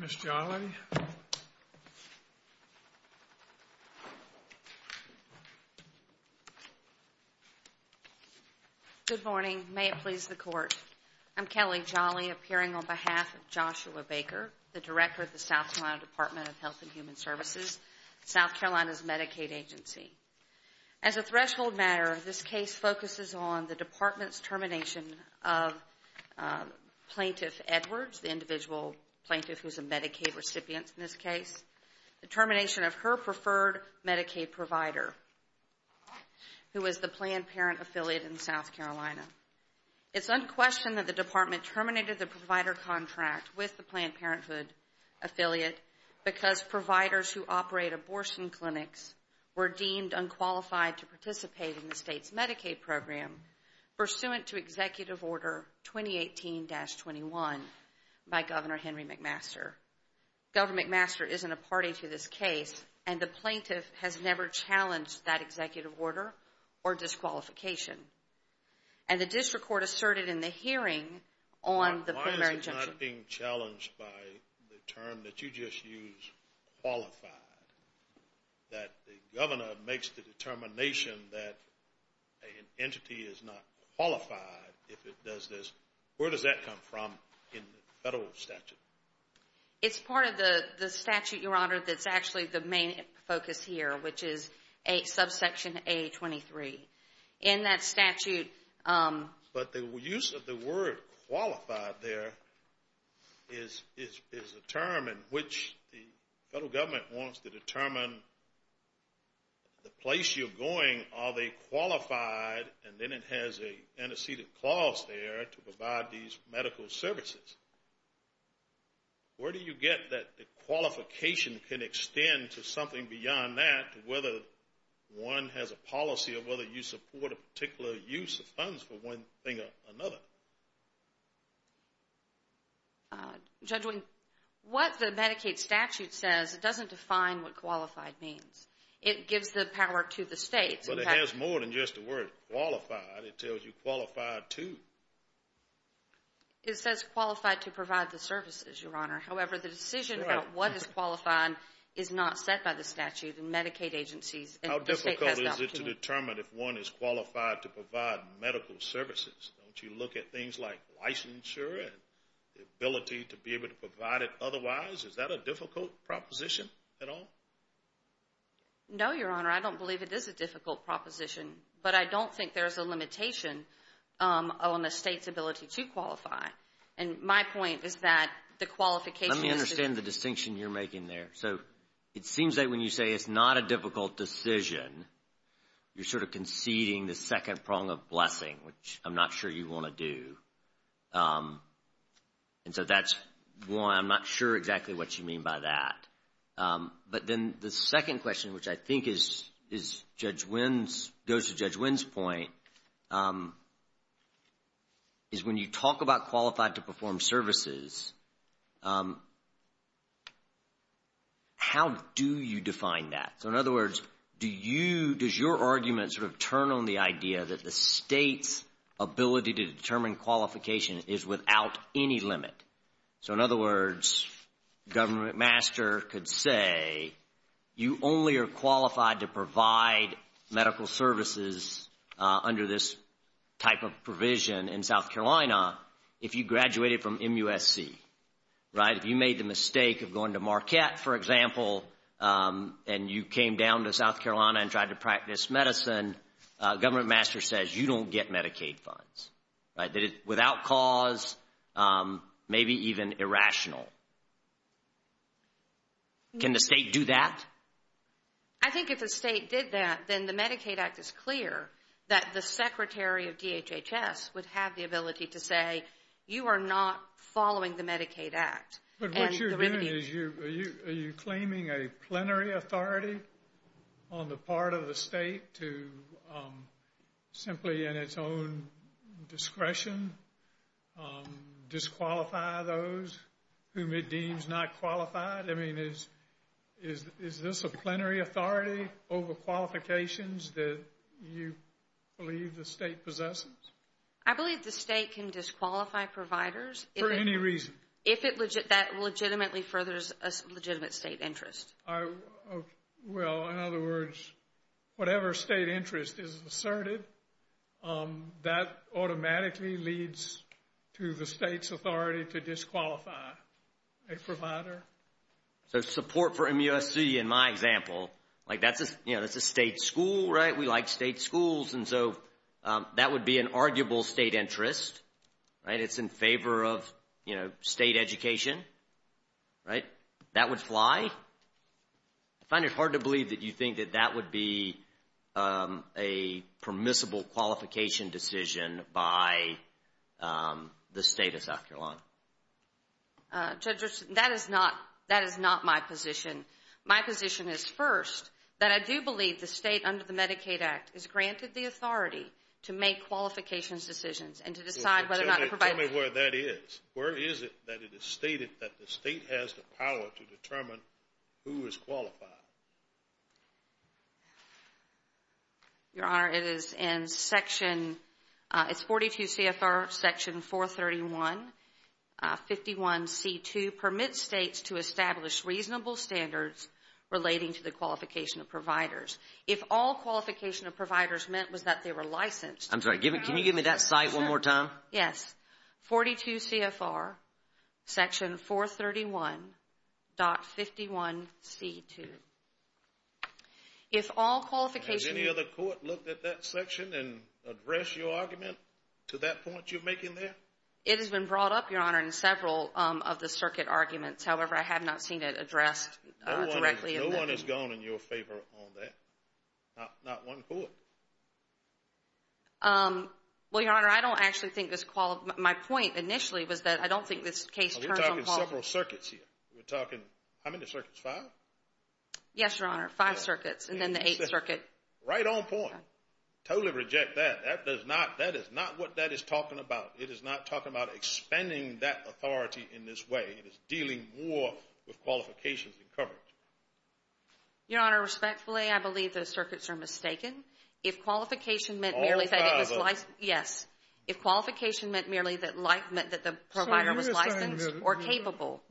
South Carolina Department of Health and Human Services, South Carolina's Medicaid Agency. As a threshold matter, this case focuses on the Department's termination of Plaintiff Edwards, the individual plaintiff who's a Medicaid recipient in this case, the termination of her preferred Medicaid provider, who is the Planned Parenthood affiliate in South Carolina. It's unquestioned that the Department terminated the provider contract with the Planned Parenthood affiliate because providers who operate abortion clinics were deemed unqualified to participate in the state's Medicaid program pursuant to Executive Order 2018-21 by Governor Henry McMaster. Governor McMaster isn't a party to this case, and the plaintiff has never challenged that executive order or disqualification. And the district court asserted in the hearing on the term that you just used, qualified, that the governor makes the determination that an entity is not qualified if it does this. Where does that come from in the federal statute? It's part of the statute, Your Honor, that's actually the main focus here, which is subsection A23. In that statute... But the use of the word qualified there is a term in which the federal government wants to determine the place you're going, are they qualified, and then it has an antecedent clause there to provide these medical services. Where do you get that the qualification can extend to something beyond that, whether one has a policy or whether you support a particular use of funds for one thing or another? Judging what the Medicaid statute says, it doesn't define what qualified means. It gives the power to the states. But it has more than just the word qualified, it tells you qualified to. It says qualified to provide the services, Your Honor. However, the decision about what is qualified is not set by the statute and Medicaid agencies. How difficult is it to determine if one is qualified to provide medical services? Don't you look at things like licensure and the ability to be able to provide it otherwise? Is that a difficult proposition at all? No, Your Honor, I don't believe it is a difficult proposition, but I don't think there's a limitation on the state's ability to qualify. And my point is that the qualification... Let me understand the distinction you're making there. So it seems that when you say it's not a difficult decision, you're sort of conceding the second prong of blessing, which I'm not sure you want to do. And so that's why I'm not sure exactly what you mean by that. But then the second question, which I think is Judge Wynn's, goes to Judge Wynn's point, is when you talk about qualified to perform services, how do you define that? So in other words, does your argument sort of turn on the idea that the state's ability to determine qualification is without any limit? So in other words, Governor McMaster could say you only are qualified to provide medical services under this type of provision in South Carolina if you graduated from MUSC, right? If you made the mistake of going to Marquette, for example, and you came down to South Carolina and tried to practice medicine, Governor McMaster says you don't get Medicaid funds, right? Without cause, um, maybe even irrational. Can the state do that? I think if the state did that, then the Medicaid Act is clear that the Secretary of DHHS would have the ability to say you are not following the Medicaid Act. But what you're doing is, are you claiming a plenary authority on the part of the state to simply, in its own discretion, disqualify those whom it deems not qualified? I mean, is this a plenary authority over qualifications that you believe the state possesses? I believe the state can disqualify providers. For any reason. If it, that legitimately furthers a legitimate state interest. Well, in other words, whatever state interest is asserted, that automatically leads to the state's authority to disqualify a provider. So support for MUSC, in my example, like that's a, you know, that's a state school, right? We like state schools. And so that would be an arguable state interest, right? It's in favor of, you know, state education, right? That would fly. I find it hard to believe that you think that that would be a permissible qualification decision by the state of South Carolina. Judge, that is not, that is not my position. My position is first, that I do believe the state under the Medicaid Act is granted the authority to make qualifications decisions and to decide whether or not to provide. Tell me where that is. Where is it that it is stated that the state has the power to determine who is qualified? Your Honor, it is in section, it's 42 CFR section 431, 51C2, permit states to establish reasonable standards relating to the qualification of providers. If all qualification of providers was that they were licensed. I'm sorry, can you give me that site one more time? Yes, 42 CFR section 431.51C2. If all qualifications. Has any other court looked at that section and addressed your argument to that point you're making there? It has been brought up, Your Honor, in several of the circuit arguments. However, I have not seen it addressed directly. No one has gone in your favor on that. Not one court. Well, Your Honor, I don't actually think this, my point initially was that I don't think this case. We're talking several circuits here. We're talking, how many circuits, five? Yes, Your Honor, five circuits and then the eighth circuit. Right on point. Totally reject that. That does not, that is not what that is talking about. It is not talking about expanding that authority in this way. It is dealing more with qualifications and coverage. Your Honor, respectfully, I believe those circuits are mistaken. If qualification meant. All five of them. Yes. If qualification meant merely that the provider was licensed or capable.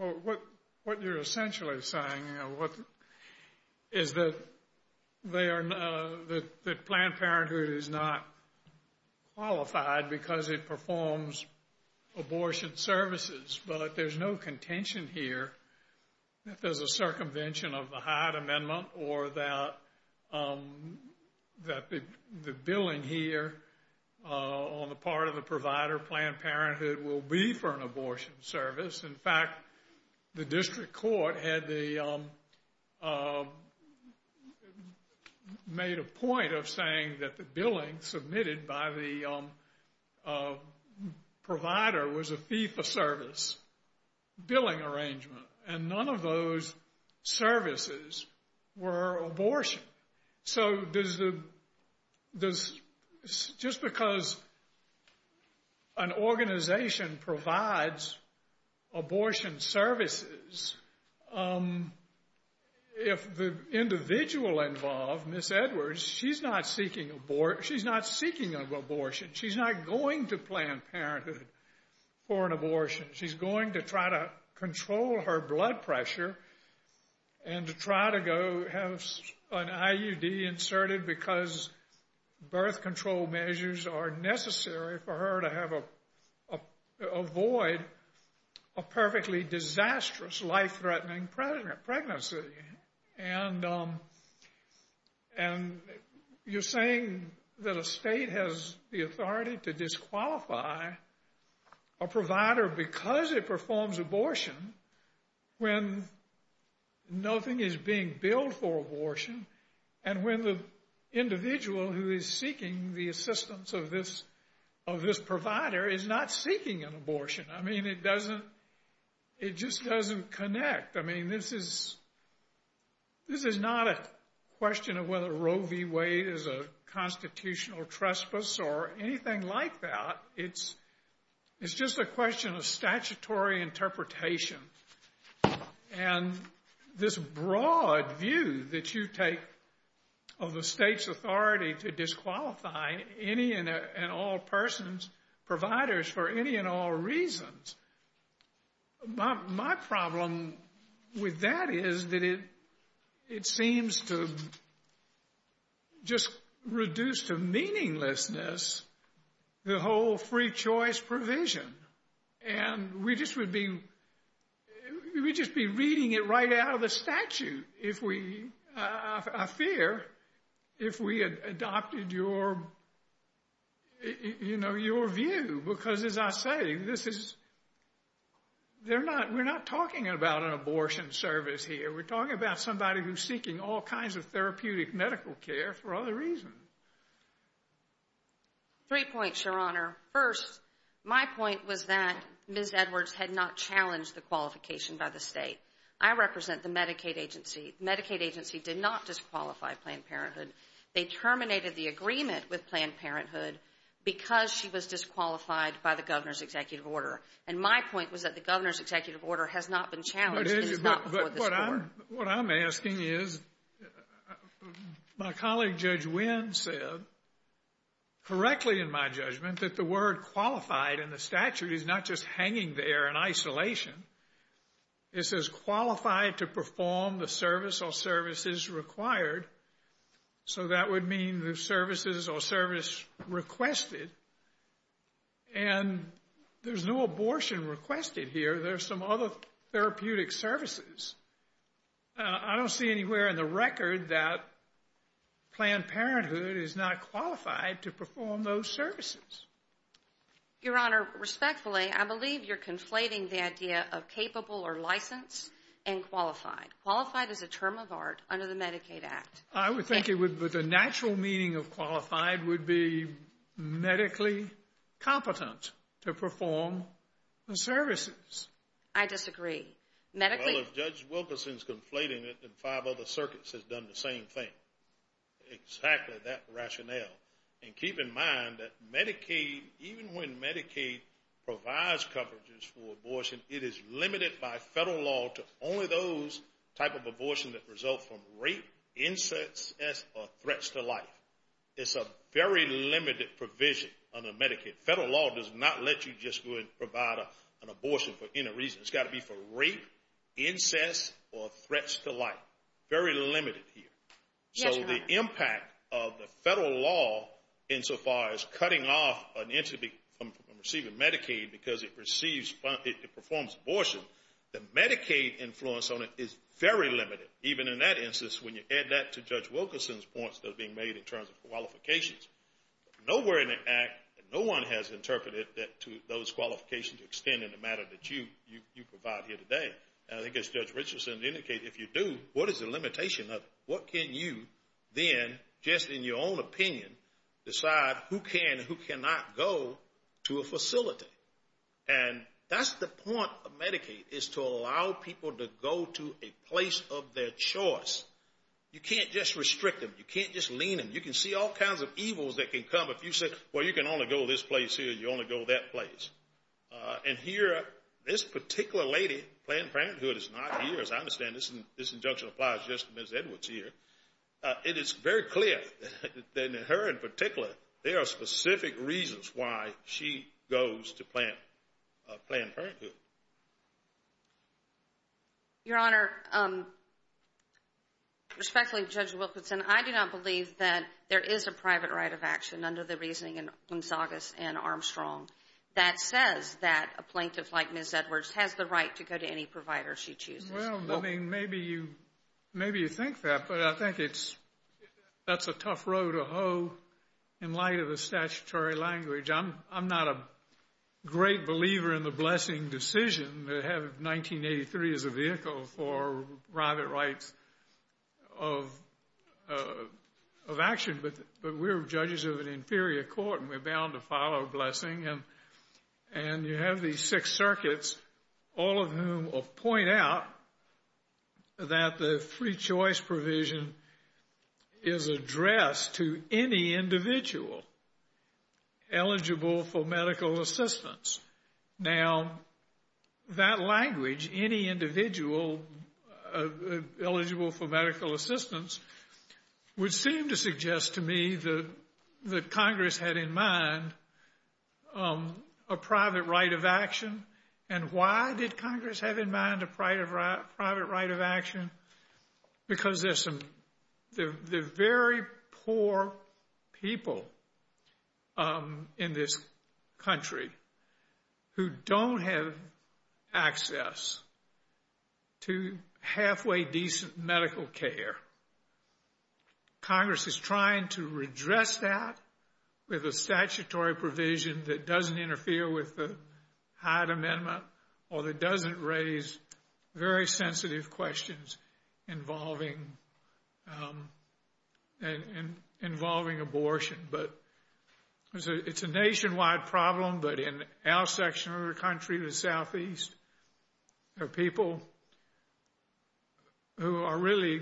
What you're essentially saying, you know, is that they are, that Planned Parenthood is not qualified because it performs abortion services. But there's no circumvention of the Hyatt Amendment or that the billing here on the part of the provider, Planned Parenthood, will be for an abortion service. In fact, the district court had the, made a point of saying that the billing submitted by the provider was a fee-for-service billing arrangement and none of those services were abortion. So does the, does, just because an organization provides abortion services, if the individual involved, Ms. Edwards, she's not seeking abortion, she's not seeking abortion. She's not going to Planned Parenthood for an abortion. She's going to try to control her blood pressure and to try to go have an IUD inserted because birth control measures are necessary for her to have a, avoid a perfectly disastrous, life-threatening pregnancy. And you're saying that a state has the authority to disqualify a provider because it performs abortion when nothing is being billed for abortion and when the individual who is seeking the assistance of this, of this provider is not seeking an abortion. I mean, it doesn't, it just doesn't connect. I mean, this is, this is not a question of whether Roe v. Wade is a constitutional trespass or anything like that. It's, it's just a question of statutory interpretation and this broad view that you take of the state's authority to disqualify any and all persons, providers for any and all reasons. My problem with that is that it, it seems to just reduce to meaninglessness the whole free choice provision. And we just would be, we'd just be reading it right out of the statute if we, I fear, if we had adopted your, you know, your view. Because as I say, this is, they're not, we're not talking about an abortion service here. We're talking about seeking all kinds of therapeutic medical care for other reasons. Three points, Your Honor. First, my point was that Ms. Edwards had not challenged the qualification by the state. I represent the Medicaid agency. Medicaid agency did not disqualify Planned Parenthood. They terminated the agreement with Planned Parenthood because she was disqualified by the governor's executive order. And my point was that the governor's executive order has not been challenged. It is not for the score. But what I'm, what I'm asking is, my colleague Judge Wynn said correctly in my judgment that the word qualified in the statute is not just hanging there in isolation. It says qualified to perform the service or services required. So that would mean the services or service requested. And there's no abortion requested here. There's some other therapeutic services. I don't see anywhere in the record that Planned Parenthood is not qualified to perform those services. Your Honor, respectfully, I believe you're conflating the idea of capable or licensed and qualified. Qualified is a term of art under the Medicaid Act. I would think it would, but the natural meaning of qualified would be medically competent to perform services. I disagree. Well, if Judge Wilkerson's conflating it, then five other circuits has done the same thing. Exactly that rationale. And keep in mind that Medicaid, even when Medicaid provides coverages for abortion, it is limited by federal law to only those type of abortion that result from rape, incest, or threats to life. It's a very limited provision under Medicaid. Federal law does not let you just go and provide an abortion for any reason. It's got to be for rape, incest, or threats to life. Very limited here. So the impact of the federal law insofar as cutting off an entity from receiving Medicaid because it performs abortion, the Medicaid influence on it is very limited. Even in that instance, when you add that to Judge Wilkerson's points that are being made in terms of qualifications, nowhere in the Act, no one has interpreted those qualifications to extend in the matter that you provide here today. And I think as Judge Richardson indicated, if you do, what is the limitation of it? What can you then, just in your own opinion, decide who can and who cannot go to a facility? And that's the point of Medicaid, is to just lean in. You can see all kinds of evils that can come if you say, well, you can only go this place here, you only go that place. And here, this particular lady, Planned Parenthood, is not here, as I understand. This injunction applies just to Ms. Edwards here. It is very clear that her, in particular, there are specific reasons why she goes to Planned Parenthood. Your Honor, respectfully, Judge Wilkerson, I do not believe that there is a private right of action under the reasoning in Gonzaga's and Armstrong that says that a plaintiff like Ms. Edwards has the right to go to any provider she chooses. Well, I mean, maybe you think that, but I think that's a tough row to hoe in light of the statutory language. I'm not a great believer in the blessing decision to have 1983 as a vehicle for private rights of action, but we're judges of an inferior court, and we're bound to follow a blessing. And you have these six circuits, all of whom point out that the free choice provision is addressed to any individual eligible for medical assistance. Now, that language, any individual eligible for medical assistance, would seem to suggest to me that Congress had in mind a private right of action. And why did Congress have in mind a private right of action? Because they're very poor people in this country who don't have access to halfway decent medical care. Congress is trying to redress that with a statutory provision that doesn't interfere with the Hyde Amendment or that doesn't raise very sensitive questions involving abortion. But it's a nationwide problem, but in our section of the country, the Southeast, there are people who are really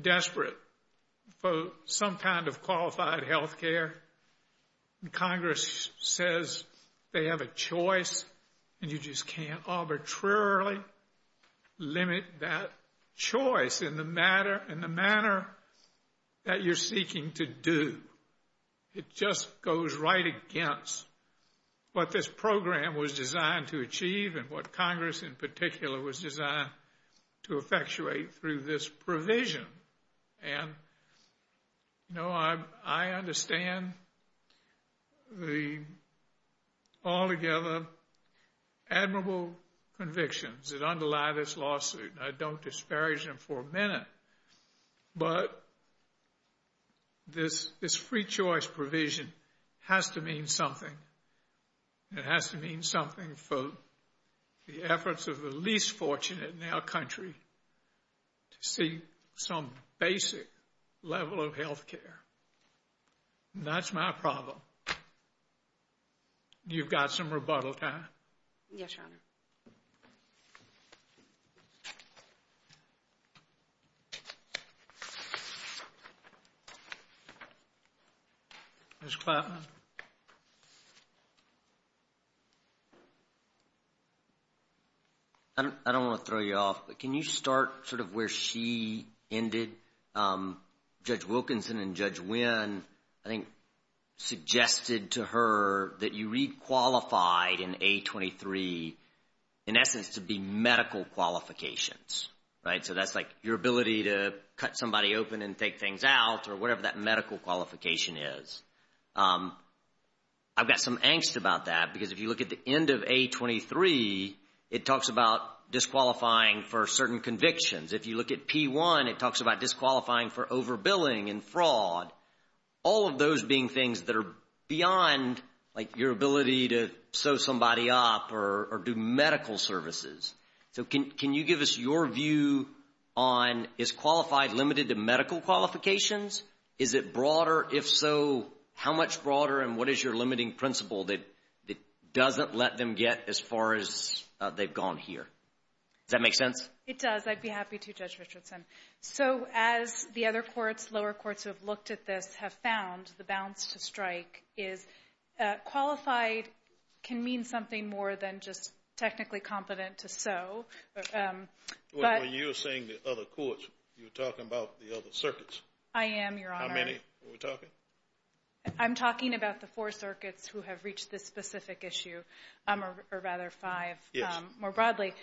desperate for some kind of qualified health care. And Congress says they have a choice, and you just can't arbitrarily limit that choice in the manner that you're seeking to do. It just goes right against what this program was designed to achieve and what Congress in particular was designed to effectuate through this provision. And, you know, I understand the altogether admirable convictions that underlie this lawsuit, and I don't disparage them for a minute. But this free choice provision has to mean something. It has to mean something for the efforts of the least fortunate in our country to seek some basic level of health care. That's my problem. You've got some rebuttal time. Yes, Your Honor. Ms. Klapman. I don't want to throw you off, but can you start sort of where she ended? Judge Wilkinson and Judge A23, in essence, to be medical qualifications, right? So that's like your ability to cut somebody open and take things out or whatever that medical qualification is. I've got some angst about that because if you look at the end of A23, it talks about disqualifying for certain convictions. If you look at P1, it talks about disqualifying for overbilling and or do medical services. So can you give us your view on is qualified limited to medical qualifications? Is it broader? If so, how much broader and what is your limiting principle that doesn't let them get as far as they've gone here? Does that make sense? It does. I'd be happy to, Judge Richardson. So as the other courts, lower courts who have looked at this have found the bounce to strike is qualified can mean something more than just technically competent to so. When you're saying the other courts, you're talking about the other circuits. I am, Your Honor. How many are we talking? I'm talking about the four circuits who have reached this specific issue or rather five more broadly.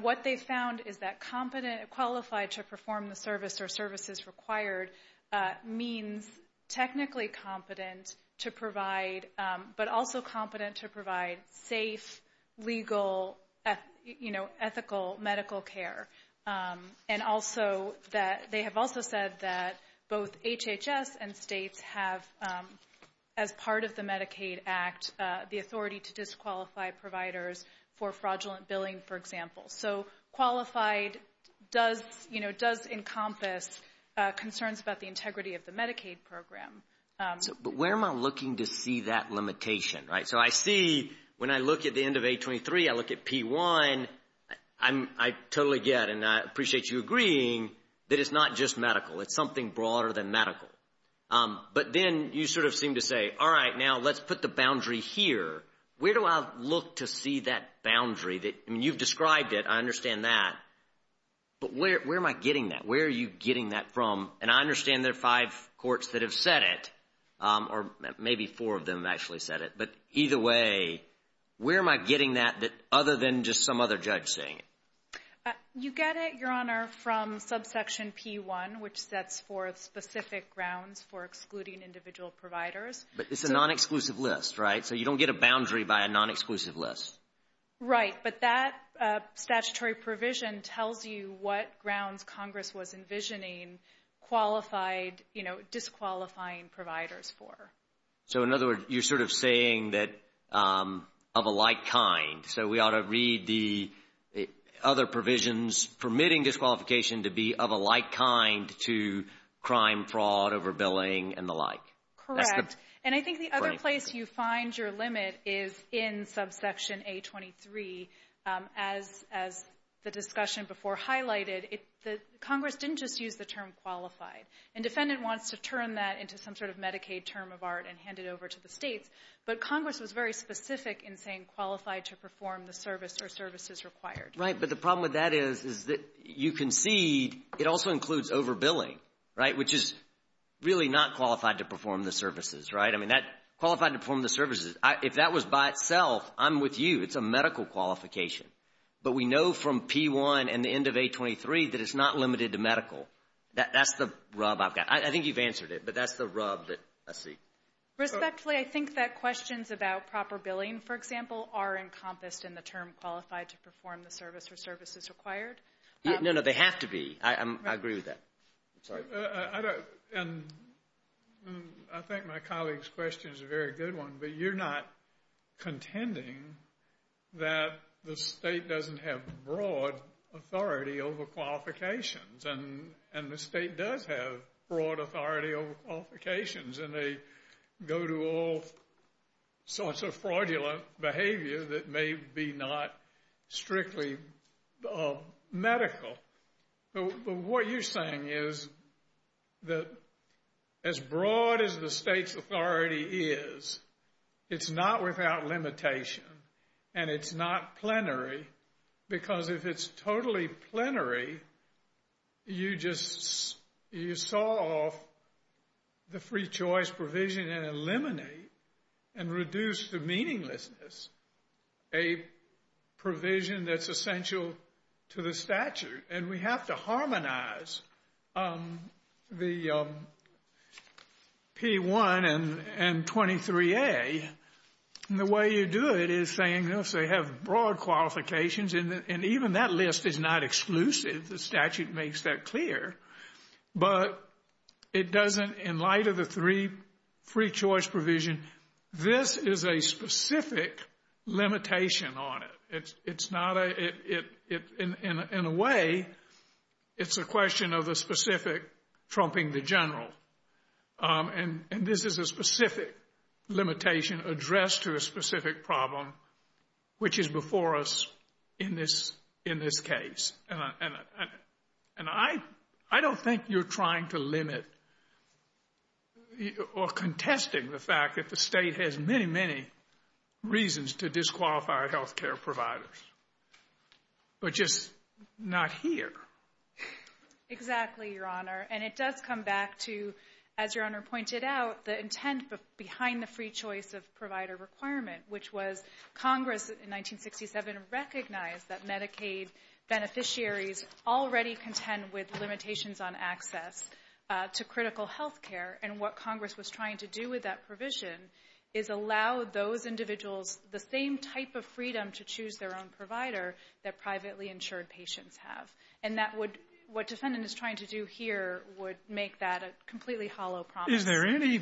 What they found is that competent technically competent to provide but also competent to provide safe, legal, ethical medical care. They have also said that both HHS and states have as part of the Medicaid Act, the authority to disqualify providers for fraudulent billing, for example. So qualified does encompass concerns about the integrity of the Medicaid program. But where am I looking to see that limitation, right? So I see when I look at the end of 823, I look at P1. I totally get and I appreciate you agreeing that it's not just medical. It's something broader than medical. But then you sort of seem to say, all right, now let's put the boundary here. Where do I look to see that boundary? You've described it. I understand that. But where am I getting that? Where are you getting that from? And I understand there are five courts that have said it or maybe four of them have actually said it. But either way, where am I getting that other than just some other judge saying it? You get it, Your Honor, from subsection P1, which sets forth specific grounds for excluding individual providers. But it's a non-exclusive list, right? So you don't get a boundary by a what grounds Congress was envisioning qualified, you know, disqualifying providers for. So in other words, you're sort of saying that of a like kind. So we ought to read the other provisions permitting disqualification to be of a like kind to crime, fraud, overbilling, and the like. Correct. And I think the other place you find your limit is in subsection 823. As the discussion before highlighted, Congress didn't just use the term qualified. And defendant wants to turn that into some sort of Medicaid term of art and hand it over to the states. But Congress was very specific in saying qualified to perform the service or services required. Right. But the problem with that is that you can see it also includes overbilling, right, which is really not qualified to perform the services, right? I mean, qualified to perform the services. If that was by itself, I'm with you. It's a medical qualification. But we know from P1 and the end of 823 that it's not limited to medical. That's the rub I've got. I think you've answered it, but that's the rub that I see. Respectfully, I think that questions about proper billing, for example, are encompassed in the term qualified to perform the service or services required. No, no, they have to be. I agree with that. I don't. And I think my colleague's question is a very good one. But you're not contending that the state doesn't have broad authority over qualifications. And the state does have broad authority over qualifications. And they go to all sorts of fraudulent behavior that may be not strictly medical. But what you're saying is that as broad as the state's authority is, it's not without limitation. And it's not plenary. Because if it's totally plenary, you just saw off the free choice provision and eliminate and reduce the meaninglessness a provision that's essential to the statute. And we have to harmonize the P1 and 23A. And the way you do it is saying, yes, they have broad qualifications. And even that list is not exclusive. The statute makes that clear. But it doesn't, in light of the three free choice provision, this is a specific limitation on it. In a way, it's a question of the specific trumping the general. And this is a specific limitation addressed to a specific problem, which is before us in this case. And I don't think you're trying to limit or contesting the fact that the state has many, many reasons to disqualify health care providers. But just not here. Exactly, Your Honor. And it does come back to, as Your Honor pointed out, the intent behind the free choice of provider requirement, which was Congress in 1967 recognized that Medicaid beneficiaries already contend with limitations on access to critical health care. And what Congress was trying to do with that provision is allow those individuals the same type of freedom to choose their own provider that privately insured patients have. And that would, what defendant is trying to do here, would make that a completely hollow promise. Is there any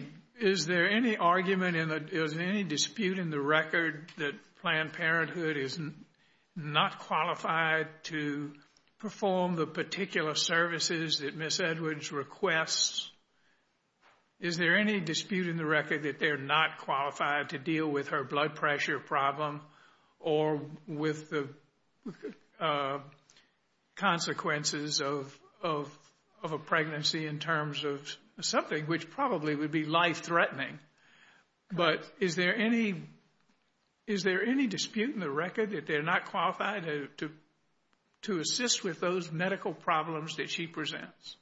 argument, is there any dispute in the record that Planned Parenthood is not qualified to perform the particular services that Ms. Edwards requests? Is there any dispute in the record that they're not qualified to deal with her blood pressure problem or with the consequences of a pregnancy in terms of something which probably would be life-threatening? But is there any dispute in the record that they're qualified to assist with those medical problems that she presents?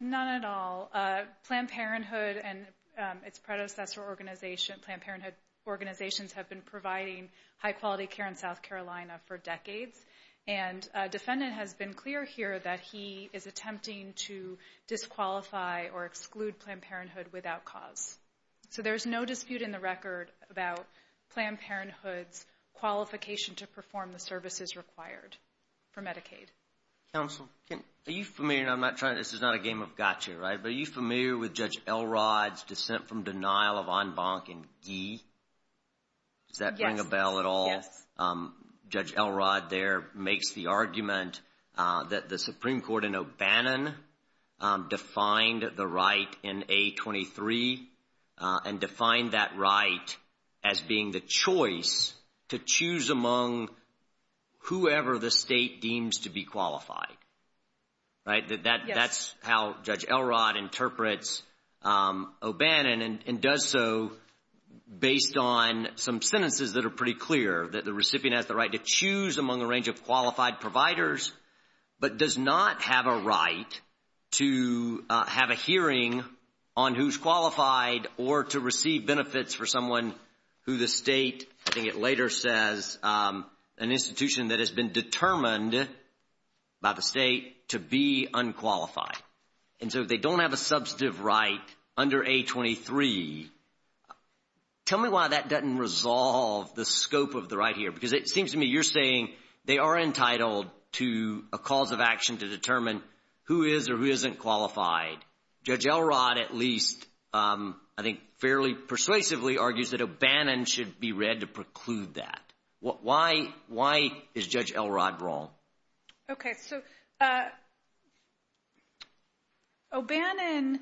None at all. Planned Parenthood and its predecessor organization, Planned Parenthood organizations, have been providing high-quality care in South Carolina for decades. And a defendant has been clear here that he is attempting to disqualify or exclude Planned Parenthood without cause. So there's no dispute in the record about Planned Parenthood's qualification to perform the services required for Medicaid. Counsel, are you familiar, and I'm not trying, this is not a game of gotcha, right, but are you familiar with Judge Elrod's dissent from denial of en banc in Guy? Does that ring a bell at all? Judge Elrod there makes the argument that the Supreme Court in among whoever the state deems to be qualified, right? That's how Judge Elrod interprets O'Bannon and does so based on some sentences that are pretty clear that the recipient has the right to choose among a range of qualified providers but does not have a right to have a hearing on who's qualified or to receive benefits for someone who the state, I think it later says, an institution that has been determined by the state to be unqualified. And so if they don't have a substantive right under A23, tell me why that doesn't resolve the scope of the right here because it seems to me you're saying they are entitled to a cause of action to determine who is or who isn't qualified. Judge Elrod at least, I think fairly persuasively argues that O'Bannon should be read to preclude that. Why is Judge Elrod wrong? Okay, so O'Bannon,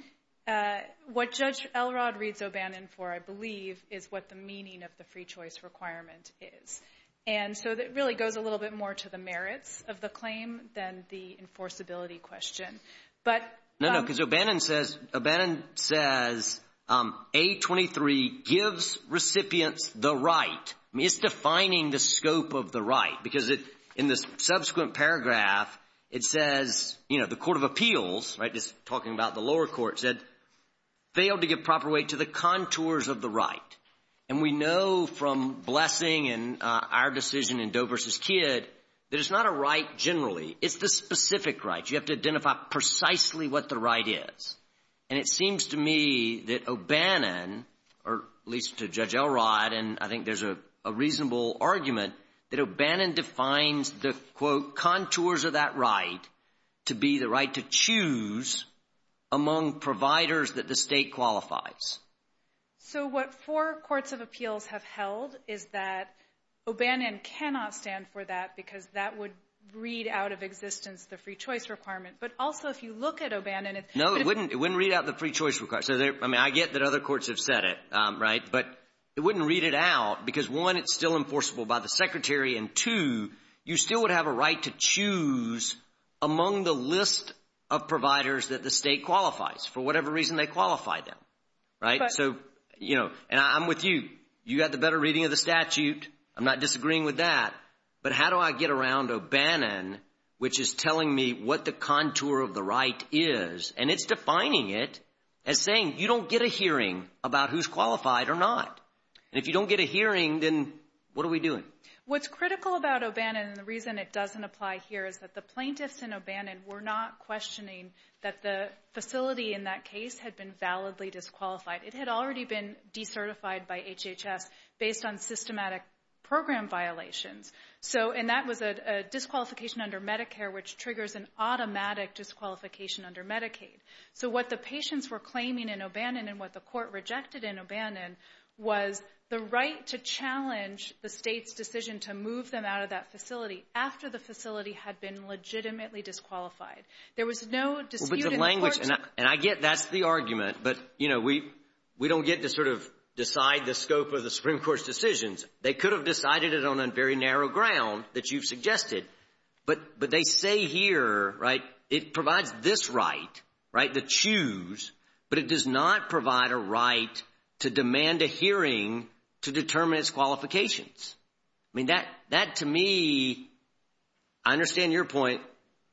what Judge Elrod reads O'Bannon for I believe is what the meaning of the free choice requirement is. And so that really goes a little bit more to the merits of the claim than the right. I mean, it's defining the scope of the right because in the subsequent paragraph, it says, you know, the Court of Appeals, right, just talking about the lower court said, failed to give proper weight to the contours of the right. And we know from Blessing and our decision in Doe versus Kidd that it's not a right generally. It's the specific right. You have to and I think there's a reasonable argument that O'Bannon defines the, quote, contours of that right to be the right to choose among providers that the state qualifies. So what four courts of appeals have held is that O'Bannon cannot stand for that because that would read out of existence the free choice requirement. But also if you look at O'Bannon. No, it wouldn't read out the free because one, it's still enforceable by the secretary and two, you still would have a right to choose among the list of providers that the state qualifies for whatever reason they qualify them. Right. So, you know, and I'm with you. You got the better reading of the statute. I'm not disagreeing with that. But how do I get around O'Bannon, which is telling me what the contour of the right is? And it's defining it as saying you don't get a hearing about who's qualified or not. And if you don't get a hearing, then what are we doing? What's critical about O'Bannon and the reason it doesn't apply here is that the plaintiffs in O'Bannon were not questioning that the facility in that case had been validly disqualified. It had already been decertified by HHS based on systematic program violations. So and that was a disqualification under Medicare, which triggers an automatic disqualification under Medicaid. So what the was the right to challenge the state's decision to move them out of that facility after the facility had been legitimately disqualified. There was no dispute in court. Well, but the language, and I get that's the argument. But, you know, we don't get to sort of decide the scope of the Supreme Court's decisions. They could have decided it on a very narrow ground that you've suggested. But they say here, right, it provides this right, right, the choose, but it does not provide a right to demand a hearing to determine its qualifications. I mean, that that to me, I understand your point.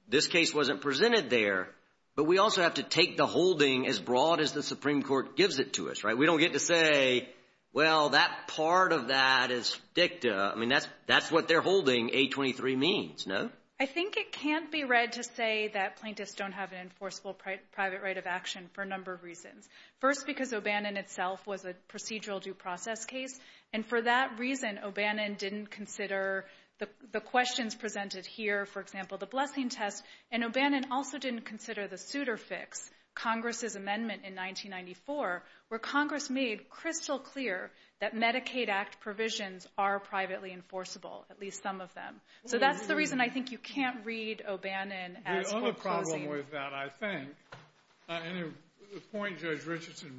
This case wasn't presented there. But we also have to take the holding as broad as the Supreme Court gives it to us, right? We don't get to say, well, that part of that is dicta. I mean, that's that's what they're holding A23 means, no? I think it can't be read to say that plaintiffs don't have an enforceable private right of action for a number of reasons. First, because O'Bannon itself was a procedural due process case. And for that reason, O'Bannon didn't consider the questions presented here, for example, the blessing test. And O'Bannon also didn't consider the suitor fix Congress's amendment in 1994, where Congress made crystal clear that Medicaid Act provisions are privately enforceable, at least some of them. So that's the reason I think you can't read O'Bannon as And the point Judge Richardson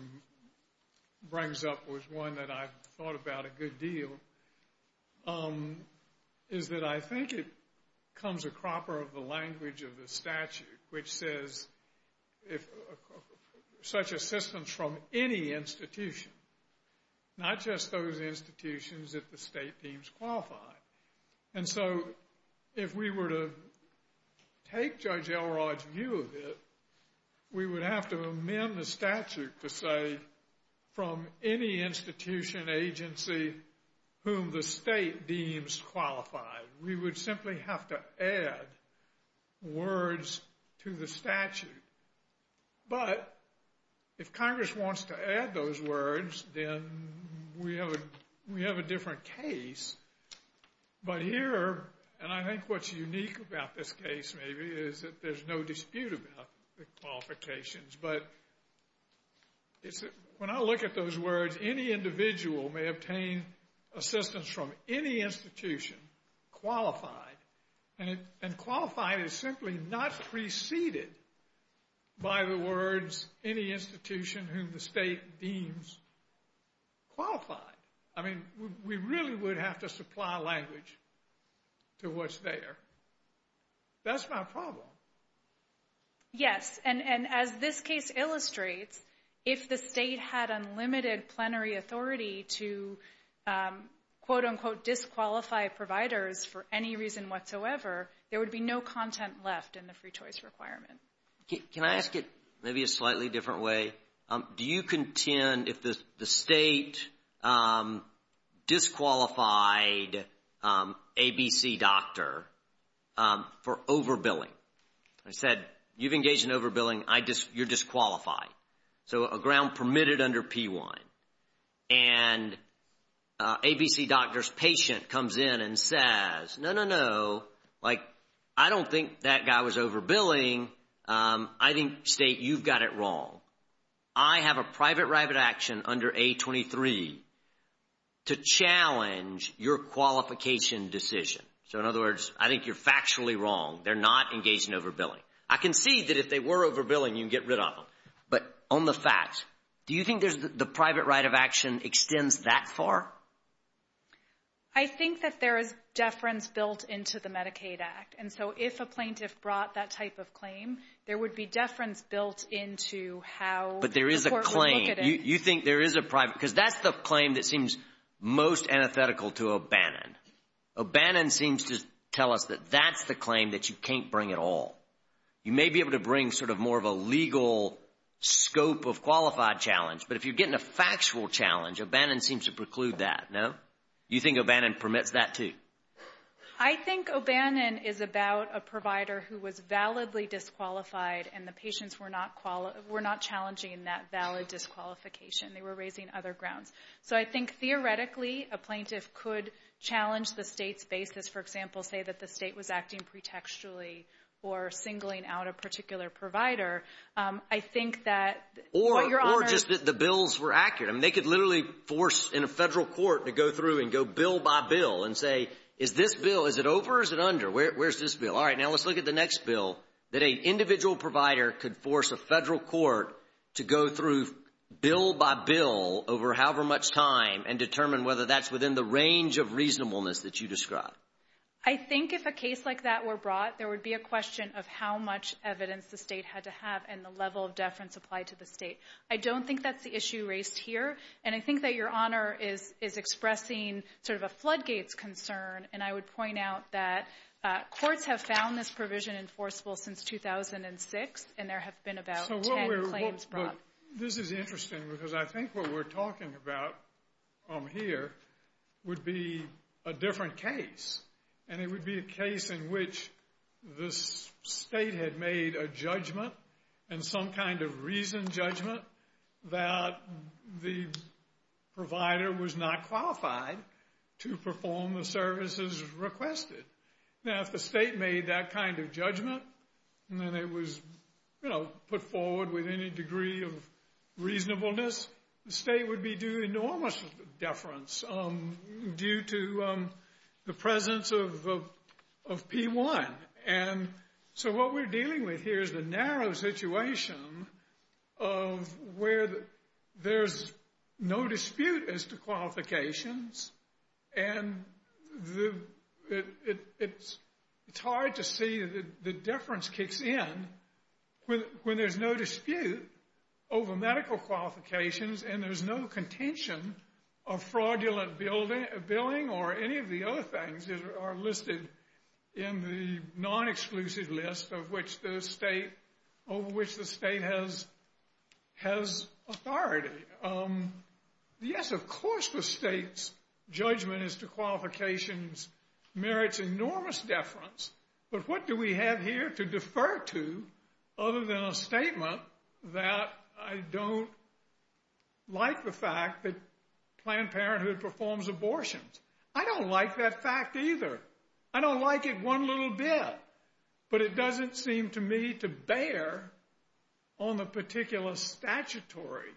brings up was one that I thought about a good deal, is that I think it comes a cropper of the language of the statute, which says, such assistance from any institution, not just those institutions that the state teams qualify. And so if we were to take Judge Elrod's view of it, we would have to amend the statute to say, from any institution agency whom the state deems qualified, we would simply have to add words to the statute. But if Congress wants to add those words, then we have a different case But here, and I think what's unique about this case, maybe, is that there's no dispute about the qualifications. But when I look at those words, any individual may obtain assistance from any institution qualified. And qualified is simply not preceded by the words, any institution whom the state deems qualified. I mean, we really would have to supply language to what's there. That's my problem. Yes. And as this case illustrates, if the state had unlimited plenary authority to disqualify providers for any reason whatsoever, there would be no content left in the free content, if the state disqualified ABC doctor for overbilling. I said, you've engaged in overbilling, you're disqualified. So a ground permitted under P1. And ABC doctor's patient comes in and says, no, no, no. Like, I don't think that guy was overbilling. I think, state, you've got it wrong. I have a private right of action under A23 to challenge your qualification decision. So in other words, I think you're factually wrong. They're not engaged in overbilling. I can see that if they were overbilling, you can get rid of them. But on the facts, do you think there's the private right of action extends that far? I think that there is deference built into the Medicaid Act. And so if a plaintiff brought that type of claim, there would be deference built into how the court would look at it. But there is a claim. You think there is a private, because that's the claim that seems most antithetical to O'Bannon. O'Bannon seems to tell us that that's the claim that you can't bring at all. You may be able to bring sort of more of a legal scope of qualified challenge, but if you're getting a factual challenge, O'Bannon seems to preclude that, no? You think O'Bannon permits that too? I think O'Bannon is about a provider who was validly disqualified and the patients were not challenging that valid disqualification. They were raising other grounds. So I think theoretically, a plaintiff could challenge the state's basis, for example, say that the state was acting pretextually or singling out a particular provider. I think that... Or just that the bills were accurate. I mean, they could literally force in a federal court to go through and go bill by bill and say, is this bill, is it over or is it under? Where's this bill? All right, now let's look at the next bill that an individual provider could force a federal court to go through bill by bill over however much time and determine whether that's within the range of reasonableness that you described. I think if a case like that were brought, there would be a question of how much evidence the state had to have and the level of deference applied to the state. I don't think that's the issue raised here. And I think that Honor is expressing sort of a floodgates concern. And I would point out that courts have found this provision enforceable since 2006 and there have been about 10 claims brought. This is interesting because I think what we're talking about here would be a different case. And it would be a case in which the state had made a judgment and some kind of reason judgment that the provider was not qualified to perform the services requested. Now if the state made that kind of judgment and then it was, you know, put forward with any degree of reasonableness, the state would be due enormous deference due to the presence of P1. And so what we're dealing with here is the narrow situation of where there's no dispute as to qualifications. And it's hard to see the deference kicks in when there's no dispute over medical qualifications and there's no contention of fraudulent billing or any of the other things that are listed in the non-exclusive list over which the state has authority. Yes, of course the state's judgment as to qualifications merits enormous deference, but what do we have here to defer to other than a statement that I don't like the fact that Planned Parenthood performs abortions? I don't like that fact either. I don't like it one little bit, but it doesn't seem to me to bear on the particular statutory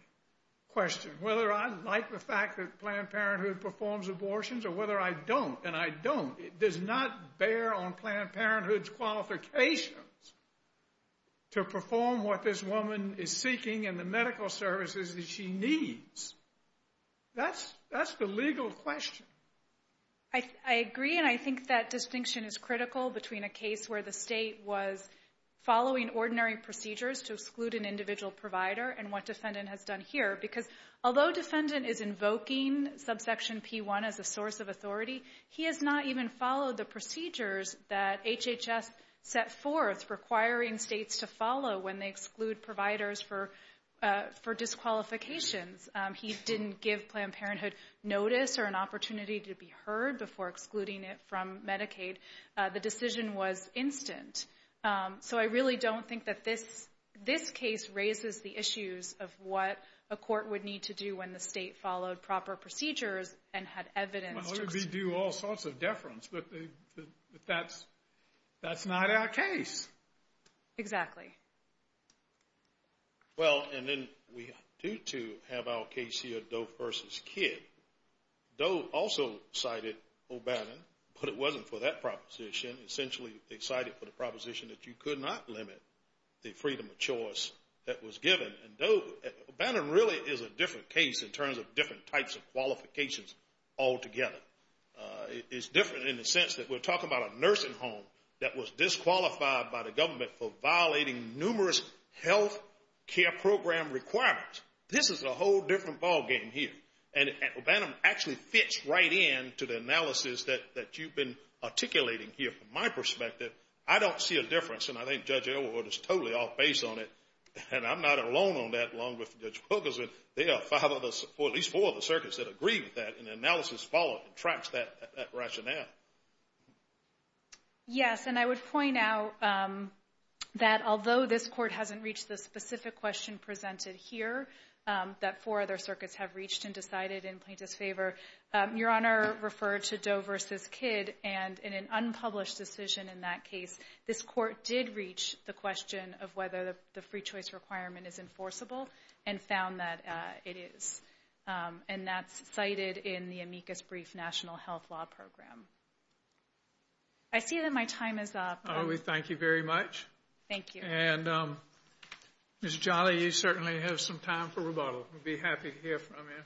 question. Whether I like the fact that Planned Parenthood performs abortions or whether I don't, and I don't, it does not bear on Planned Parenthood's qualifications to perform what this I think that distinction is critical between a case where the state was following ordinary procedures to exclude an individual provider and what defendant has done here. Because although defendant is invoking subsection P1 as a source of authority, he has not even followed the procedures that HHS set forth requiring states to follow when they exclude providers for disqualifications. He didn't give Planned Parenthood notice or an opportunity to be heard before excluding it from Medicaid. The decision was instant. So I really don't think that this this case raises the issues of what a court would need to do when the state followed proper procedures and had evidence. Well it would be due all sorts of deference, but that's not our case. Exactly. Well and then we do too have our case here Doe versus Kidd. Doe also cited O'Bannon, but it wasn't for that proposition. Essentially they cited for the proposition that you could not limit the freedom of choice that was given. And Doe, O'Bannon really is a different case in terms of different types of qualifications altogether. It's different in the sense that we're talking about a nursing home that was disqualified by the government for violating numerous health care program requirements. This is a whole different ballgame here. And O'Bannon actually fits right in to the analysis that you've been articulating here from my perspective. I don't see a difference and I think Judge Elwood is totally off base on it. And I'm not alone on that along with Judge Wilkerson. There are five others or at least four of the circuits that agree with that and analysis tracks that rationale. Yes and I would point out that although this court hasn't reached the specific question presented here, that four other circuits have reached and decided in plaintiff's favor. Your Honor referred to Doe versus Kidd and in an unpublished decision in that case, this court did reach the question of whether the free choice requirement is enforceable and found that it is. And that's cited in the amicus brief national health law program. I see that my time is up. We thank you very much. Thank you. And Ms. Jolly, you certainly have some time for rebuttal. We'd be happy to hear from you.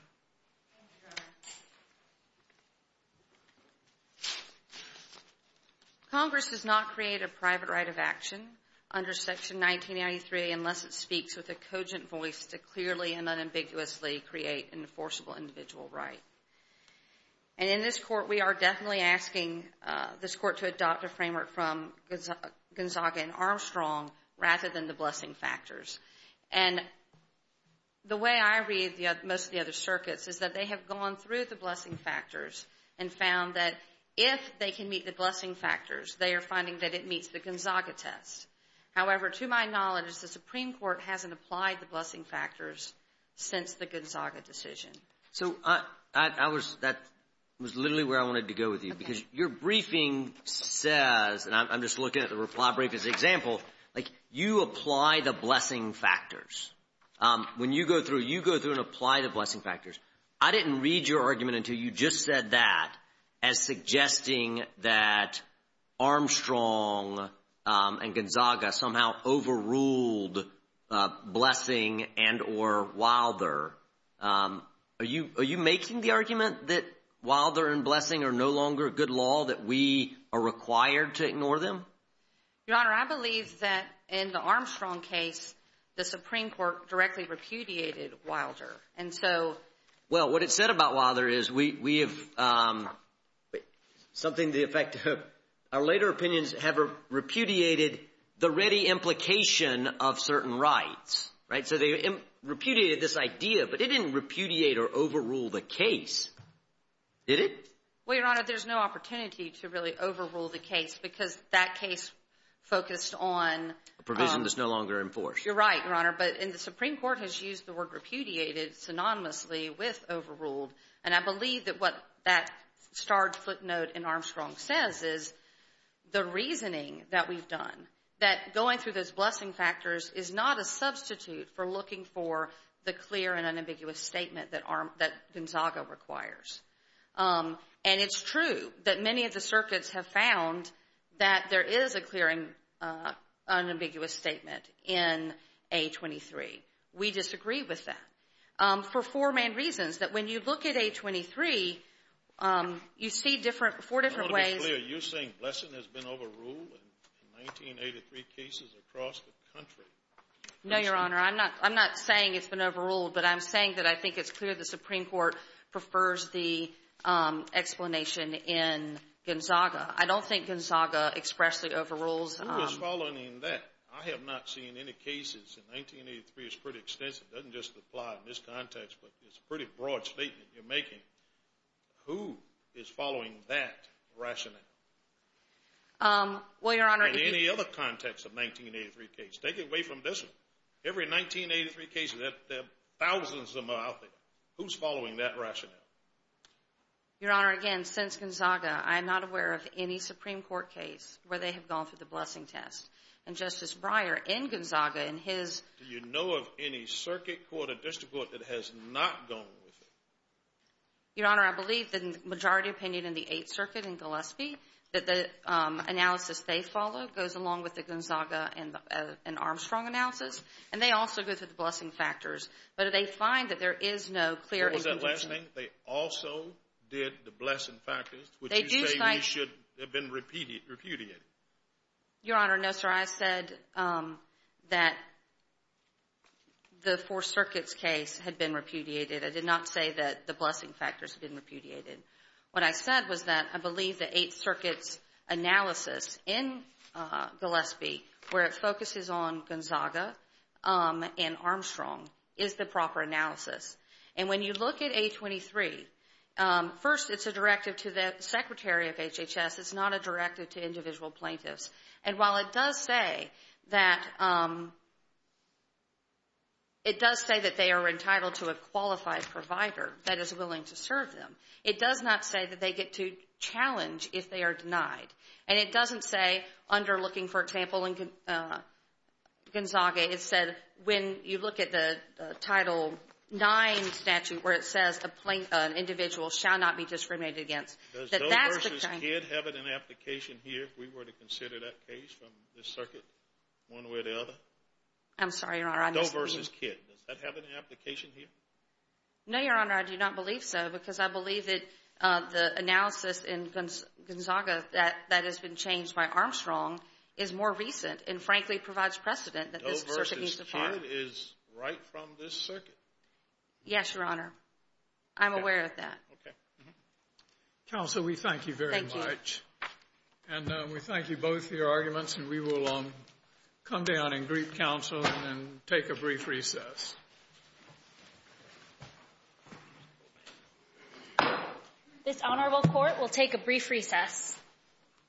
Congress does not create a private right of action under section 1993 unless it speaks with a cogent voice to clearly and unambiguously create an enforceable individual right. And in this court, we are definitely asking this court to adopt a framework from Gonzaga and Armstrong rather than the blessing factors. And the way I read most of the other circuits is that they have gone through the blessing factors and found that if they can meet the blessing factors, they are finding that it meets the Gonzaga test. However, to my knowledge, the Supreme Court hasn't applied the blessing factors since the Gonzaga decision. So I was that was literally where I wanted to go with you because your briefing says, and I'm just looking at the reply brief as an example, like you apply the blessing factors. When you go through, you go through and apply the blessing factors. I didn't read your argument until you just said that as suggesting that Armstrong and Gonzaga somehow overruled blessing and or Wilder. Are you making the argument that Wilder and blessing are no longer a good law, that we are required to ignore them? Your Honor, I believe that in the Armstrong case, the Supreme Court directly repudiated Wilder. Well, what it said about Wilder is we have something to the effect of our later opinions have repudiated the ready implication of certain rights. So they repudiated this idea, but it didn't repudiate or overrule the case, did it? Well, Your Honor, there's no opportunity to really overrule the case because that case focused on provision that's no longer enforced. You're right, Your Honor. But in the Supreme Court has used the word repudiated synonymously with overruled. And I believe that what that starred footnote in Armstrong says is the reasoning that we've done, that going through those blessing factors is not a substitute for looking for the clear and unambiguous statement that Gonzaga requires. And it's true that many of the circuits have found that there is a clearing unambiguous statement in A23. We disagree with that for four main reasons, that when you look at A23, you see four different ways. I want to be clear. You're saying blessing has been overruled in 1983 cases across the country. No, Your Honor. I'm not saying it's been overruled, but I'm saying that I think it's clear the Supreme Court prefers the explanation in Gonzaga. I don't think Gonzaga expressly overrules. Who is following that? I have not seen any cases in 1983. It's pretty extensive. It doesn't just apply in this context, but it's a pretty broad statement you're making. Who is following that rationale? Well, Your Honor. In any other context of 1983 case, take it away from this one. Every 1983 case, there are thousands of them out there. Who's following that rationale? Your Honor, again, since Gonzaga, I'm not aware of any Supreme Court case where they have gone through the blessing test, and Justice Breyer in Gonzaga and his... Do you know of any circuit court or district court that has not gone with it? Your Honor, I believe the majority opinion in the Eighth Circuit in Gillespie, that the analysis they followed goes along with the Gonzaga and Armstrong analysis, and they also go through the blessing factors, but they find that there is no clear... They also did the blessing factors, which you say should have been repudiated. Your Honor, no, sir. I said that the Fourth Circuit's case had been repudiated. I did not say that the blessing factors had been repudiated. What I said was that I believe the Eighth Circuit's analysis in Gillespie, where it focuses on Gonzaga and Armstrong, is the proper analysis, and when you look at 823, first, it's a directive to the Secretary of HHS. It's not a directive to individual plaintiffs, and while it does say that they are entitled to a qualified provider that is willing to serve them, it does not say that they get to challenge if they are denied, and it doesn't say underlooking, for example, in Gonzaga, it said when you look at the Title IX statute, where it says an individual shall not be discriminated against. Does Doe v. Kidd have an application here, if we were to consider that case from this circuit, one way or the other? I'm sorry, Your Honor. Doe v. Kidd. Does that have an application here? No, Your Honor, I do not believe so, because I believe that the analysis in Gonzaga that has been changed by Armstrong is more recent, and frankly, provides precedent that this circuit needs to fire. Doe v. Kidd is right from this circuit? Yes, Your Honor. I'm aware of that. Okay. Counsel, we thank you very much, and we thank you both for your arguments, and we will come down and greet counsel and take a brief recess. This Honorable Court will take a brief recess.